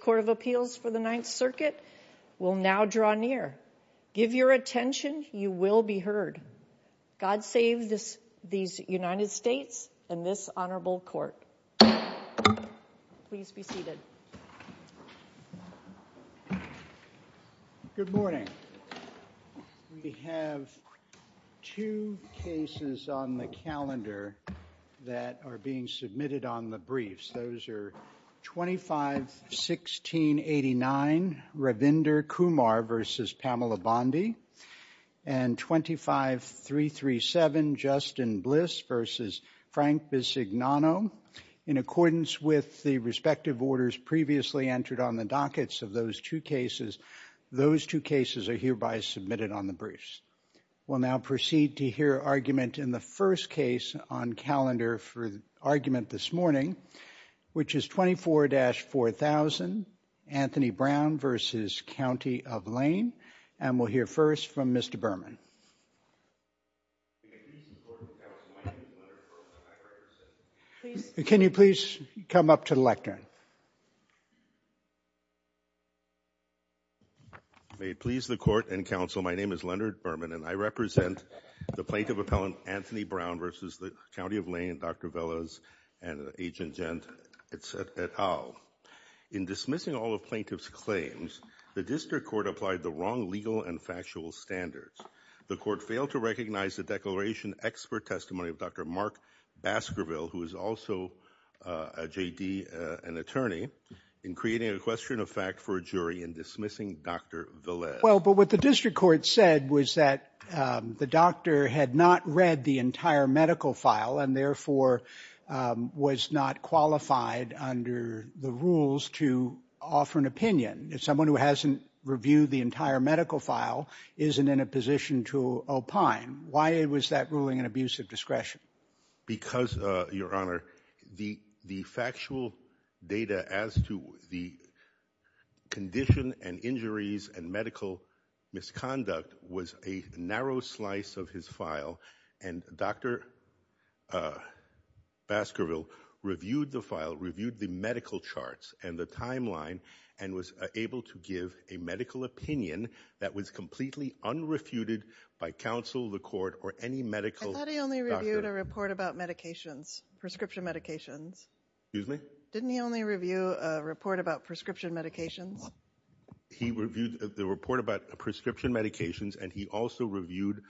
Court of Appeals for the Ninth Circuit will now draw near. Give your attention, you will be heard. God save these United States and this honorable court. Please be seated. Good morning. We have two cases on the calendar that are being submitted on the briefs. Those are 25-1689 Ravinder Kumar v. Pamela Bondi and 25-337 Justin Bliss v. Frank Bisignano. In accordance with the respective orders previously entered on the dockets of those two cases, those two cases are hereby submitted on the briefs. We'll now proceed to hear argument in the first case on calendar for argument this morning, which is 24-4000 Anthony Brown v. County of Lane. And we'll hear first from Mr. Berman. Can you please come up to the lectern? May it please the court and counsel, my name is Leonard Berman and I represent the plaintiff appellant Anthony Brown v. County of Lane, Dr. Velas and Agent Gent et al. In dismissing all of plaintiff's claims, the district court applied the wrong legal and factual standards. The court failed to recognize the declaration expert testimony of Dr. Mark Baskerville, who is also a J.D. and attorney, in creating a question of fact for a jury in dismissing Dr. Velas. Well, but what the district court said was that the doctor had not read the entire medical file and therefore was not qualified under the rules to offer an opinion. If someone who hasn't reviewed the entire medical file isn't in a position to opine, why was that ruling an abuse of discretion? Because, Your Honor, the factual data as to the condition and injuries and medical misconduct was a narrow slice of his file and Dr. Baskerville reviewed the file, reviewed the medical charts and the timeline and was able to give a medical opinion that was completely unrefuted by counsel, the court, or any medical doctor. He only reviewed a report about medications, prescription medications. Excuse me? Didn't he only review a report about prescription medications? He reviewed the report about prescription medications and he also reviewed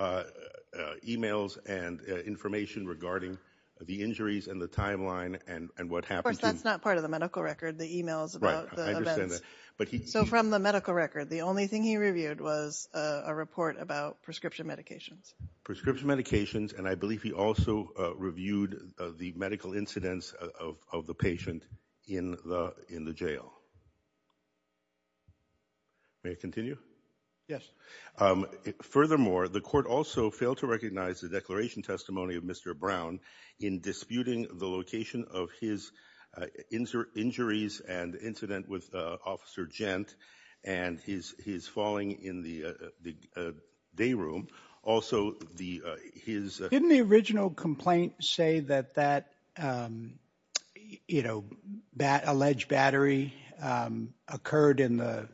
emails and information regarding the injuries and the timeline and what happened to... Of course, that's not part of the medical record, the emails about the events. Right, I understand that. So from the medical record, the only thing he reviewed was a report about prescription medications. Prescription medications and I believe he also reviewed the medical incidents of the patient in the jail. May I continue? Yes. Furthermore, the court also failed to recognize the declaration testimony of Mr. Brown in disputing the location of his injuries and incident with Officer Gent and his falling in the day room. Also, his... Didn't the original complaint say that that alleged battery occurred in the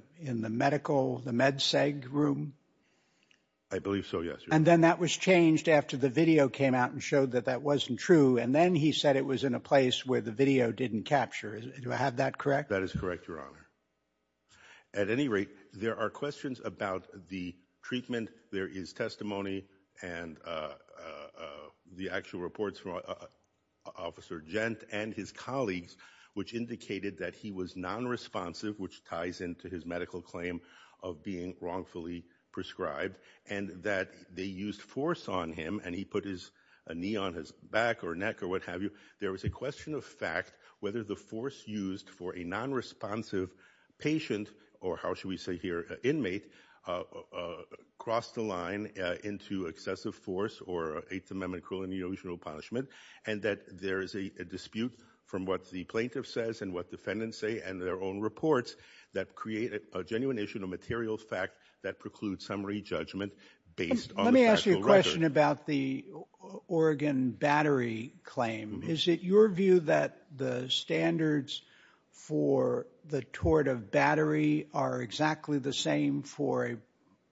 medical, the med seg room? I believe so, yes. And then that was changed after the video came out and showed that that wasn't true and then he said it was in a place where the video didn't capture. Do I have that correct? That is correct, Your Honor. At any rate, there are questions about the treatment, there is testimony, and the actual reports from Officer Gent and his colleagues which indicated that he was non-responsive which ties into his medical claim of being wrongfully prescribed and that they used force on him and he put his knee on his back or neck or what have you. There was a question of fact whether the force used for a non-responsive patient or how should we say here, inmate, crossed the line into excessive force or Eighth Amendment cruel and unilateral punishment and that there is a dispute from what the plaintiff says and what defendants say and their own reports that create a genuine issue and a material fact that precludes summary judgment based on the factual record. A question about the Oregon battery claim. Is it your view that the standards for the tort of battery are exactly the same for a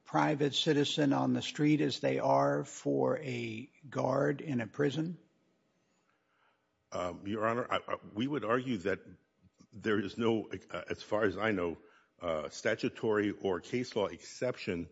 private citizen on the street as they are for a guard in a prison? Your Honor, we would argue that there is no, as far as I know, statutory or case law exception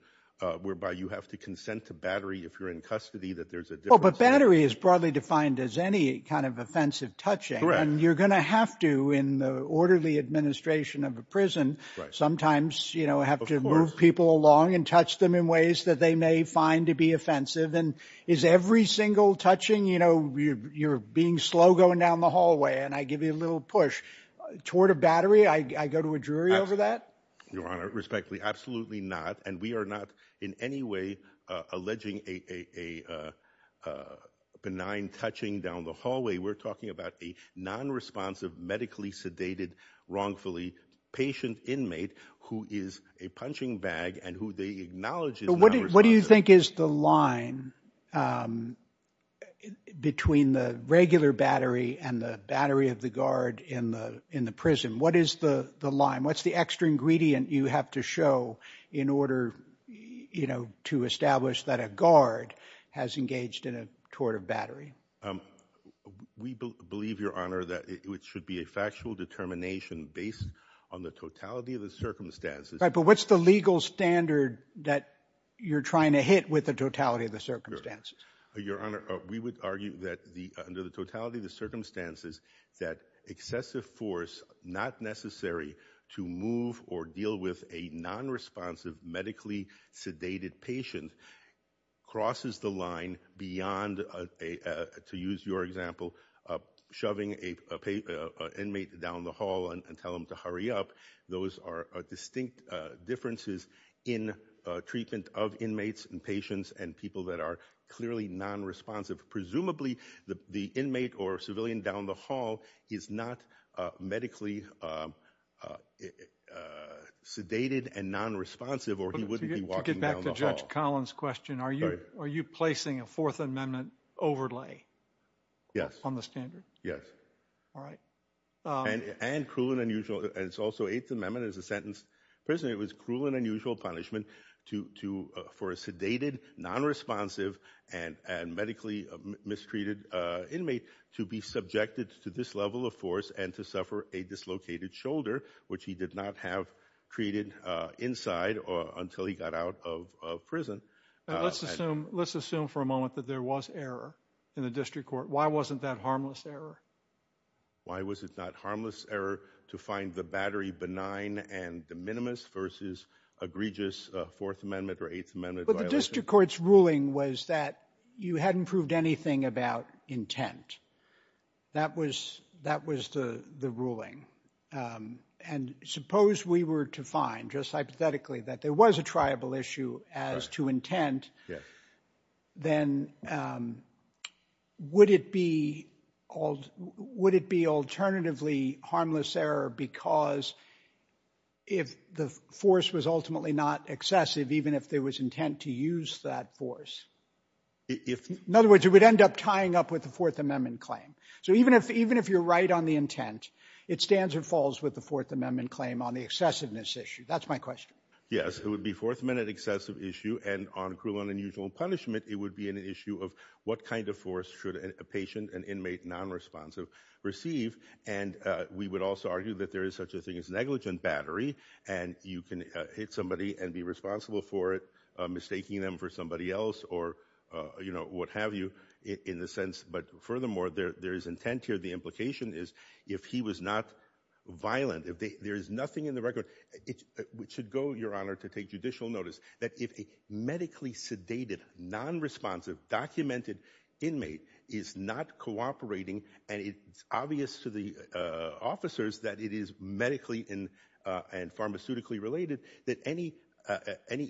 whereby you have to consent to battery if you're in custody that there's a difference. But battery is broadly defined as any kind of offensive touching and you're going to have to in the orderly administration of a prison sometimes, you know, have to move people along and touch them in ways that they may find to be offensive and is every single touching, you know, you're being slow going down the hallway and I give you a little push. Tort of battery, I go to a jury over that? Your Honor, respectfully, absolutely not. And we are not in any way alleging a benign touching down the hallway. We're talking about a non-responsive, medically sedated, wrongfully patient inmate who is a punching bag and who they acknowledge is non-responsive. What do you think is the line between the regular battery and the battery of the guard in the prison? What is the line? What's the extra ingredient you have to show in order, you know, to establish that a guard has engaged in a tort of battery? We believe, Your Honor, that it should be a factual determination based on the totality of the circumstances. Right, but what's the legal standard that you're trying to hit with the totality of the circumstances? Your Honor, we would argue that under the totality of the circumstances that excessive force, not necessary to move or deal with a non-responsive, medically sedated patient crosses the line beyond, to use your example, shoving an inmate down the hall and tell him to hurry up. Those are distinct differences in treatment of inmates and patients and people that are clearly non-responsive. Presumably, the inmate or civilian down the hall is not medically sedated and non-responsive or he wouldn't be walking down the hall. To get back to Judge Collins' question, are you placing a Fourth Amendment overlay on the standard? Yes. All right. And cruel and unusual, and it's also Eighth Amendment, it's a sentence, prison, it was sedated, non-responsive, and medically mistreated inmate to be subjected to this level of force and to suffer a dislocated shoulder, which he did not have treated inside or until he got out of prison. Let's assume for a moment that there was error in the district court. Why wasn't that harmless error? Why was it not harmless error to find the battery benign and de minimis versus egregious Fourth Amendment or Eighth Amendment violations? But the district court's ruling was that you hadn't proved anything about intent. That was the ruling. And suppose we were to find, just hypothetically, that there was a triable issue as to intent, then would it be alternatively harmless error because if the force was ultimately not excessive, even if there was intent to use that force? In other words, it would end up tying up with the Fourth Amendment claim. So even if you're right on the intent, it stands or falls with the Fourth Amendment claim on the excessiveness issue. That's my question. Yes. It would be Fourth Amendment excessive issue, and on cruel and unusual punishment, it would be an issue of what kind of force should a patient, an inmate, non-responsive receive. And we would also argue that there is such a thing as negligent battery, and you can hit somebody and be responsible for it, mistaking them for somebody else or, you know, what have you in the sense. But furthermore, there is intent here. The implication is if he was not violent, if there is nothing in the record, it should go, Your Honor, to take judicial notice that if a medically sedated, non-responsive, documented inmate is not cooperating, and it's obvious to the officers that it is medically and pharmaceutically related that any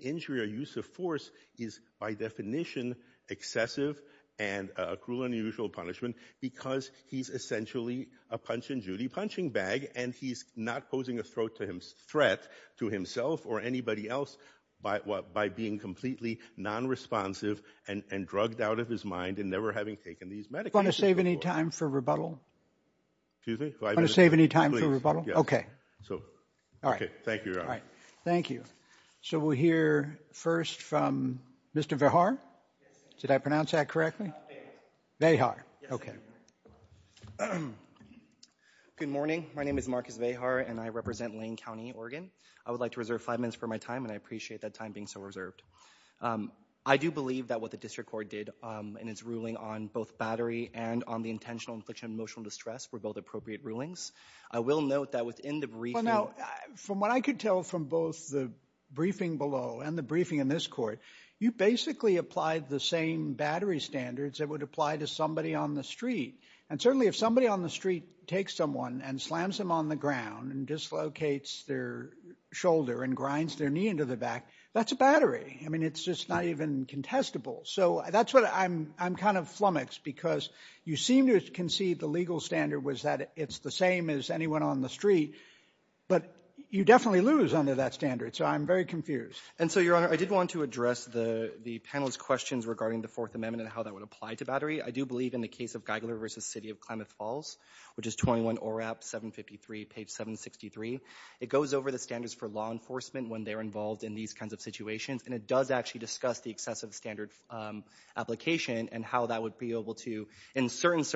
injury or use of force is by definition excessive and a cruel and unusual punishment because he's essentially a punch-and-judy punching bag, and he's not posing a threat to himself or anybody else by being completely non-responsive and drugged out of his mind and never having taken these medications before. Do you want to save any time for rebuttal? Excuse me? Do you want to save any time for rebuttal? Yes. Okay. All right. Thank you, Your Honor. Thank you. So we'll hear first from Mr. Vahar. Yes, sir. Did I pronounce that correctly? Vahar. Vahar. Yes, sir. Okay. Good morning. My name is Marcus Vahar, and I represent Lane County, Oregon. I would like to reserve five minutes for my time, and I appreciate that time being so I do believe that what the District Court did in its ruling on both battery and on the intentional infliction of emotional distress were both appropriate rulings. I will note that within the briefing... Well, now, from what I could tell from both the briefing below and the briefing in this court, you basically applied the same battery standards that would apply to somebody on the street. And certainly, if somebody on the street takes someone and slams them on the ground and dislocates their shoulder and grinds their knee into the back, that's a battery. I mean, it's just not even contestable. So that's what I'm kind of flummoxed, because you seem to concede the legal standard was that it's the same as anyone on the street, but you definitely lose under that standard. So I'm very confused. And so, Your Honor, I did want to address the panel's questions regarding the Fourth Amendment and how that would apply to battery. I do believe in the case of Geigler v. City of Klamath Falls, which is 21 ORAP 753, page 763. It goes over the standards for law enforcement when they're involved in these kinds of situations, and it does actually discuss the excessive standard application and how that would be applicable to these kinds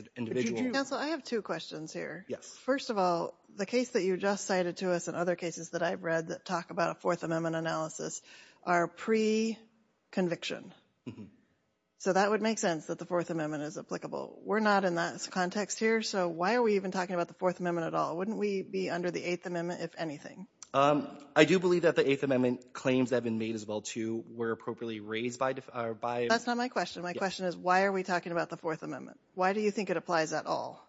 of individuals. Counsel, I have two questions here. First of all, the case that you just cited to us and other cases that I've read that talk about a Fourth Amendment analysis are pre-conviction. So that would make sense that the Fourth Amendment is applicable. We're not in that context here. So why are we even talking about the Fourth Amendment at all? Wouldn't we be under the Eighth Amendment, if anything? I do believe that the Eighth Amendment claims that have been made as well, too, were appropriately raised by... That's not my question. My question is, why are we talking about the Fourth Amendment? Why do you think it applies at all?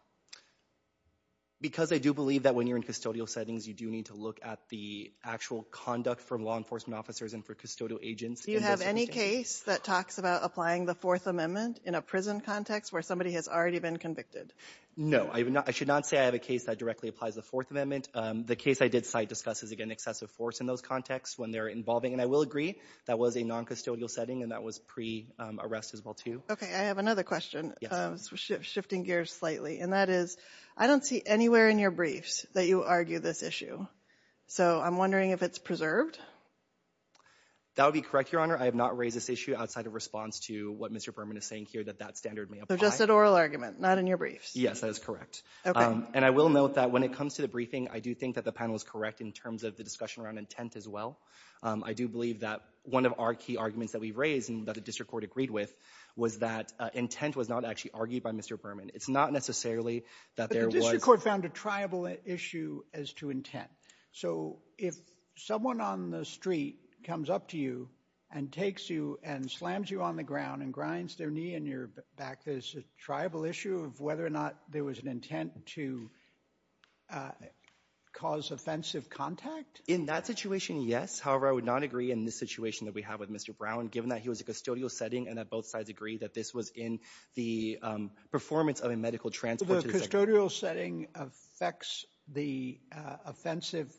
Because I do believe that when you're in custodial settings, you do need to look at the actual conduct from law enforcement officers and for custodial agents. Do you have any case that talks about applying the Fourth Amendment in a prison context where somebody has already been convicted? No. I should not say I have a case that directly applies the Fourth Amendment. The case I did cite discusses, again, excessive force in those contexts when they're involving, and I will agree, that was a non-custodial setting and that was pre-arrest as well. Okay, I have another question. Shifting gears slightly, and that is, I don't see anywhere in your briefs that you argue this issue. So I'm wondering if it's preserved? That would be correct, Your Honor. I have not raised this issue outside of response to what Mr. Berman is saying here, that that standard may apply. So just an oral argument, not in your briefs? Yes, that is correct. And I will note that when it comes to the briefing, I do think that the panel is correct in terms of the discussion around intent as well. I do believe that one of our key arguments that we've raised and that the District Court was that intent was not actually argued by Mr. Berman. It's not necessarily that there was... But the District Court found a triable issue as to intent. So if someone on the street comes up to you and takes you and slams you on the ground and grinds their knee in your back, there's a triable issue of whether or not there was an intent to cause offensive contact? In that situation, yes. However, I would not agree in this situation that we have with Mr. Brown, given that he was in a custodial setting, and that both sides agree that this was in the performance of a medical transport. So the custodial setting affects the offensive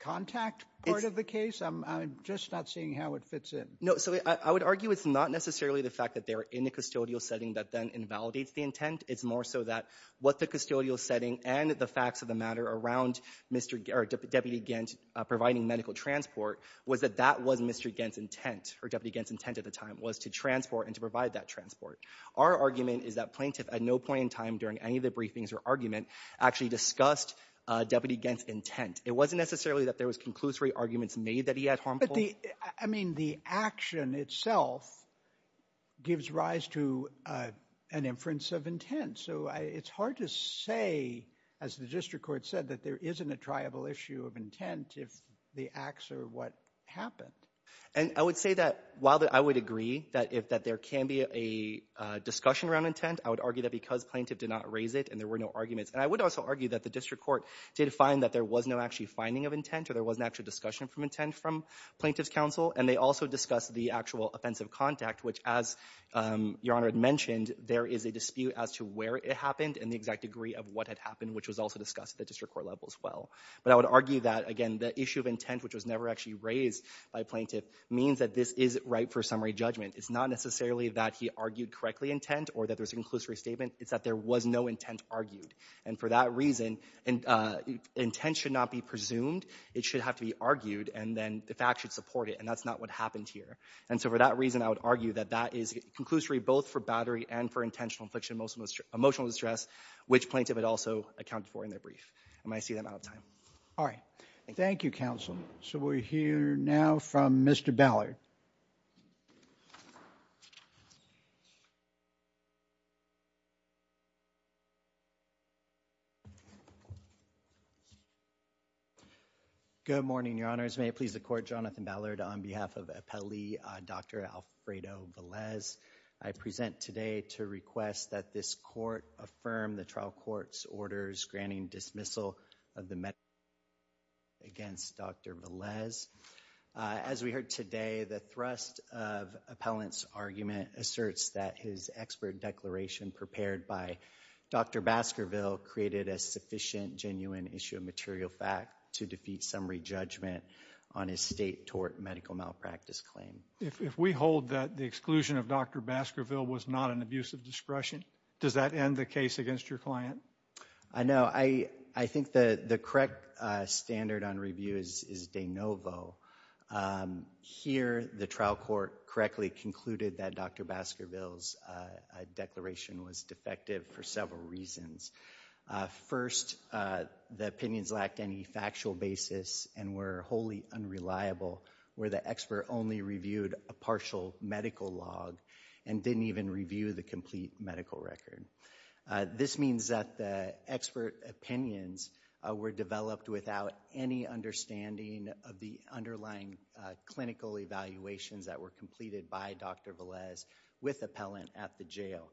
contact part of the case? I'm just not seeing how it fits in. No, so I would argue it's not necessarily the fact that they're in a custodial setting that then invalidates the intent. It's more so that what the custodial setting and the facts of the matter around Deputy Gens providing medical transport was that that was Mr. Gens' intent, or Deputy Gens' intent at the time, was to transport and to provide that transport. Our argument is that plaintiff at no point in time during any of the briefings or argument actually discussed Deputy Gens' intent. It wasn't necessarily that there was conclusory arguments made that he had harmful... But the, I mean, the action itself gives rise to an inference of intent. So it's hard to say, as the District Court said, that there isn't a triable issue of intent if the acts are what happened. And I would say that while I would agree that if there can be a discussion around intent, I would argue that because plaintiff did not raise it and there were no arguments. And I would also argue that the District Court did find that there was no actually finding of intent or there was no actual discussion of intent from plaintiff's counsel. And they also discussed the actual offensive contact, which as Your Honor had mentioned, there is a dispute as to where it happened and the exact degree of what had happened, which was also discussed at the District Court level as well. But I would argue that, again, the issue of intent, which was never actually raised by plaintiff, means that this is ripe for summary judgment. It's not necessarily that he argued correctly intent or that there's a conclusory statement. It's that there was no intent argued. And for that reason, intent should not be presumed. It should have to be argued and then the fact should support it. And that's not what happened here. And so for that reason, I would argue that that is conclusory both for battery and for intentional infliction of emotional distress, which plaintiff had also accounted for in their brief. And I see that I'm out of time. All right. Thank you. Thank you, Counsel. So we'll hear now from Mr. Ballard. Good morning, Your Honors. May it please the Court, Jonathan Ballard on behalf of Appellee Dr. Alfredo Velez. I present today to request that this Court affirm the trial court's orders granting dismissal of the medical malpractice claim against Dr. Velez. As we heard today, the thrust of appellant's argument asserts that his expert declaration prepared by Dr. Baskerville created a sufficient genuine issue of material fact to defeat summary judgment on his state tort medical malpractice claim. If we hold that the exclusion of Dr. Baskerville was not an abuse of discretion, does that end the case against your client? I know. I think the correct standard on review is de novo. Here, the trial court correctly concluded that Dr. Baskerville's declaration was defective for several reasons. First, the opinions lacked any factual basis and were wholly unreliable where the expert only reviewed a partial medical log and didn't even review the complete medical record. This means that the expert opinions were developed without any understanding of the underlying clinical evaluations that were completed by Dr. Velez with appellant at the jail.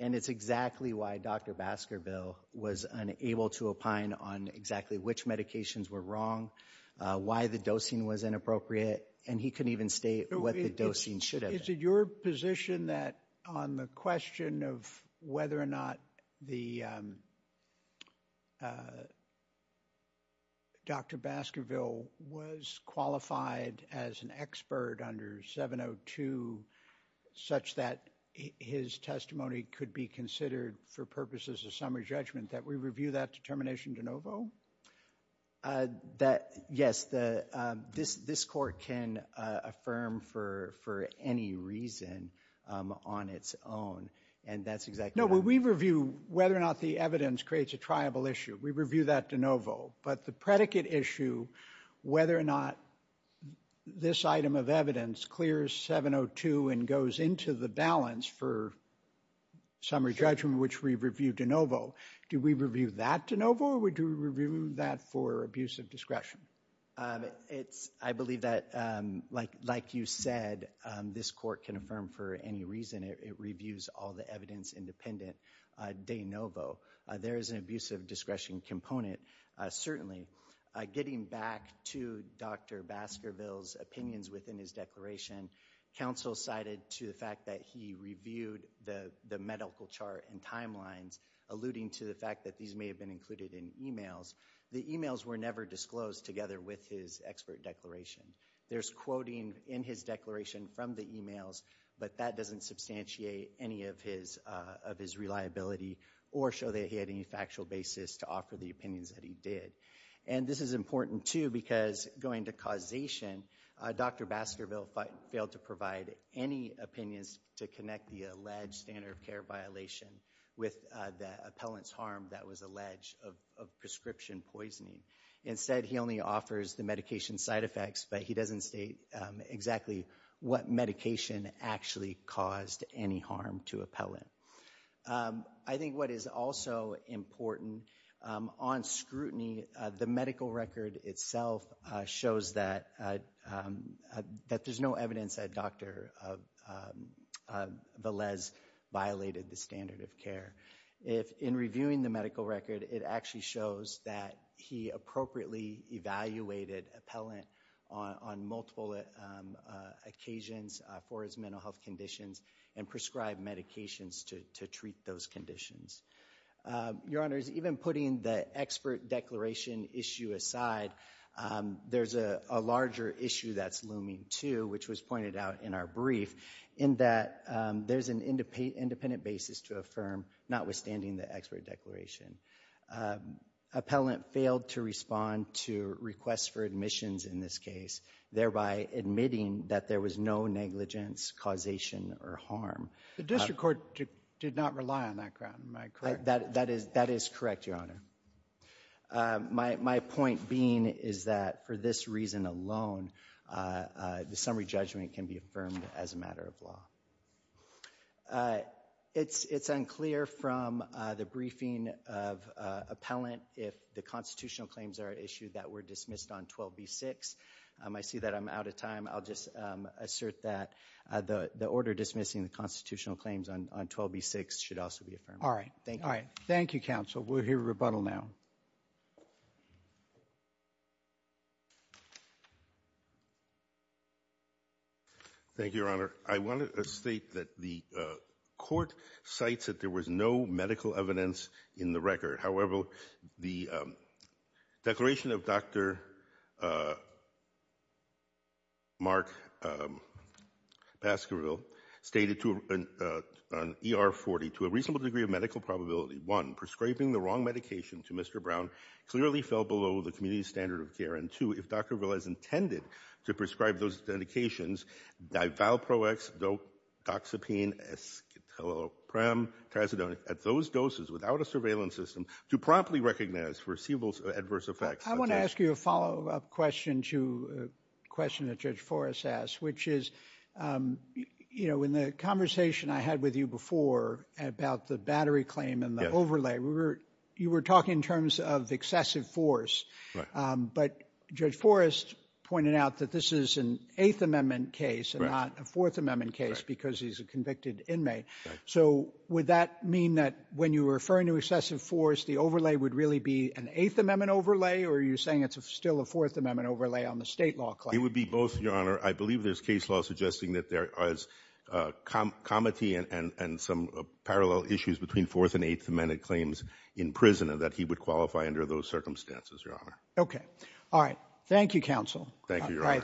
And it's exactly why Dr. Baskerville was unable to opine on exactly which medications were wrong, why the dosing was inappropriate, and he couldn't even state what the dosing should have been. Is it your position that on the question of whether or not the Dr. Baskerville was qualified as an expert under 702 such that his testimony could be considered for purposes of summary judgment that we review that determination de novo? Yes, this court can affirm for any reason on its own, and that's exactly right. No, we review whether or not the evidence creates a triable issue. We review that de novo. But the predicate issue, whether or not this item of evidence clears 702 and goes into the balance for summary judgment, which we review de novo. Do we review that de novo, or do we review that for abuse of discretion? I believe that, like you said, this court can affirm for any reason. It reviews all the evidence independent de novo. There is an abuse of discretion component, certainly. Getting back to Dr. Baskerville's opinions within his declaration, counsel cited to the fact that he reviewed the medical chart and timelines according to the fact that these may have been included in emails. The emails were never disclosed together with his expert declaration. There's quoting in his declaration from the emails, but that doesn't substantiate any of his reliability or show that he had any factual basis to offer the opinions that he did. And this is important, too, because going to causation, Dr. Baskerville failed to provide any opinions to connect the alleged standard of care violation with the appellant's harm that was alleged of prescription poisoning. Instead, he only offers the medication side effects, but he doesn't state exactly what medication actually caused any harm to appellant. I think what is also important on scrutiny, the medical record itself shows that there's no evidence that Dr. Velez violated the standard of care. In reviewing the medical record, it actually shows that he appropriately evaluated appellant on multiple occasions for his mental health conditions and prescribed medications to treat those conditions. Your Honor, even putting the expert declaration issue aside, there's a larger issue that's looming, too, which was pointed out in our brief, in that there's an independent basis to affirm, notwithstanding the expert declaration. Appellant failed to respond to requests for admissions in this case, thereby admitting that there was no negligence, causation, or harm. The district court did not rely on that ground. Am I correct? That is correct, Your Honor. My point being is that for this reason alone, the summary judgment can be affirmed as a matter of law. It's unclear from the briefing of appellant if the constitutional claims are at issue that were dismissed on 12b-6. I see that I'm out of time. I'll just assert that the order dismissing the constitutional claims on 12b-6 should also be affirmed. All right. Thank you, counsel. We'll hear rebuttal now. Thank you, Your Honor. I want to state that the court cites that there was no medical evidence in the record. However, the declaration of Dr. Mark Baskerville stated on ER-40, to a reasonable degree of medical probability, one, prescribing the wrong medication to Mr. Brown clearly fell below the community standard of care, and two, if Dr. Baskerville has intended to prescribe those medications, divalprox, doxepine, escitalopram, trazodone, at those doses without a surveillance system, to promptly recognize foreseeable adverse effects. I want to ask you a follow-up question to a question that Judge Forrest asked, which is, you know, in the conversation I had with you before about the battery claim and the overlay, you were talking in terms of excessive force. But Judge Forrest pointed out that this is an Eighth Amendment case and not a Fourth Amendment case because he's a convicted inmate. So would that mean that when you were referring to excessive force, the overlay would really be an Eighth Amendment overlay, or are you saying it's still a Fourth Amendment overlay on the state law claim? It would be both, Your Honor. I believe there's case law suggesting that there is comity and some parallel issues between Fourth and Eighth Amendment claims in prison and that he would qualify under those circumstances, Your Honor. Okay. All right. Thank you, counsel. Thank you, Your Honor.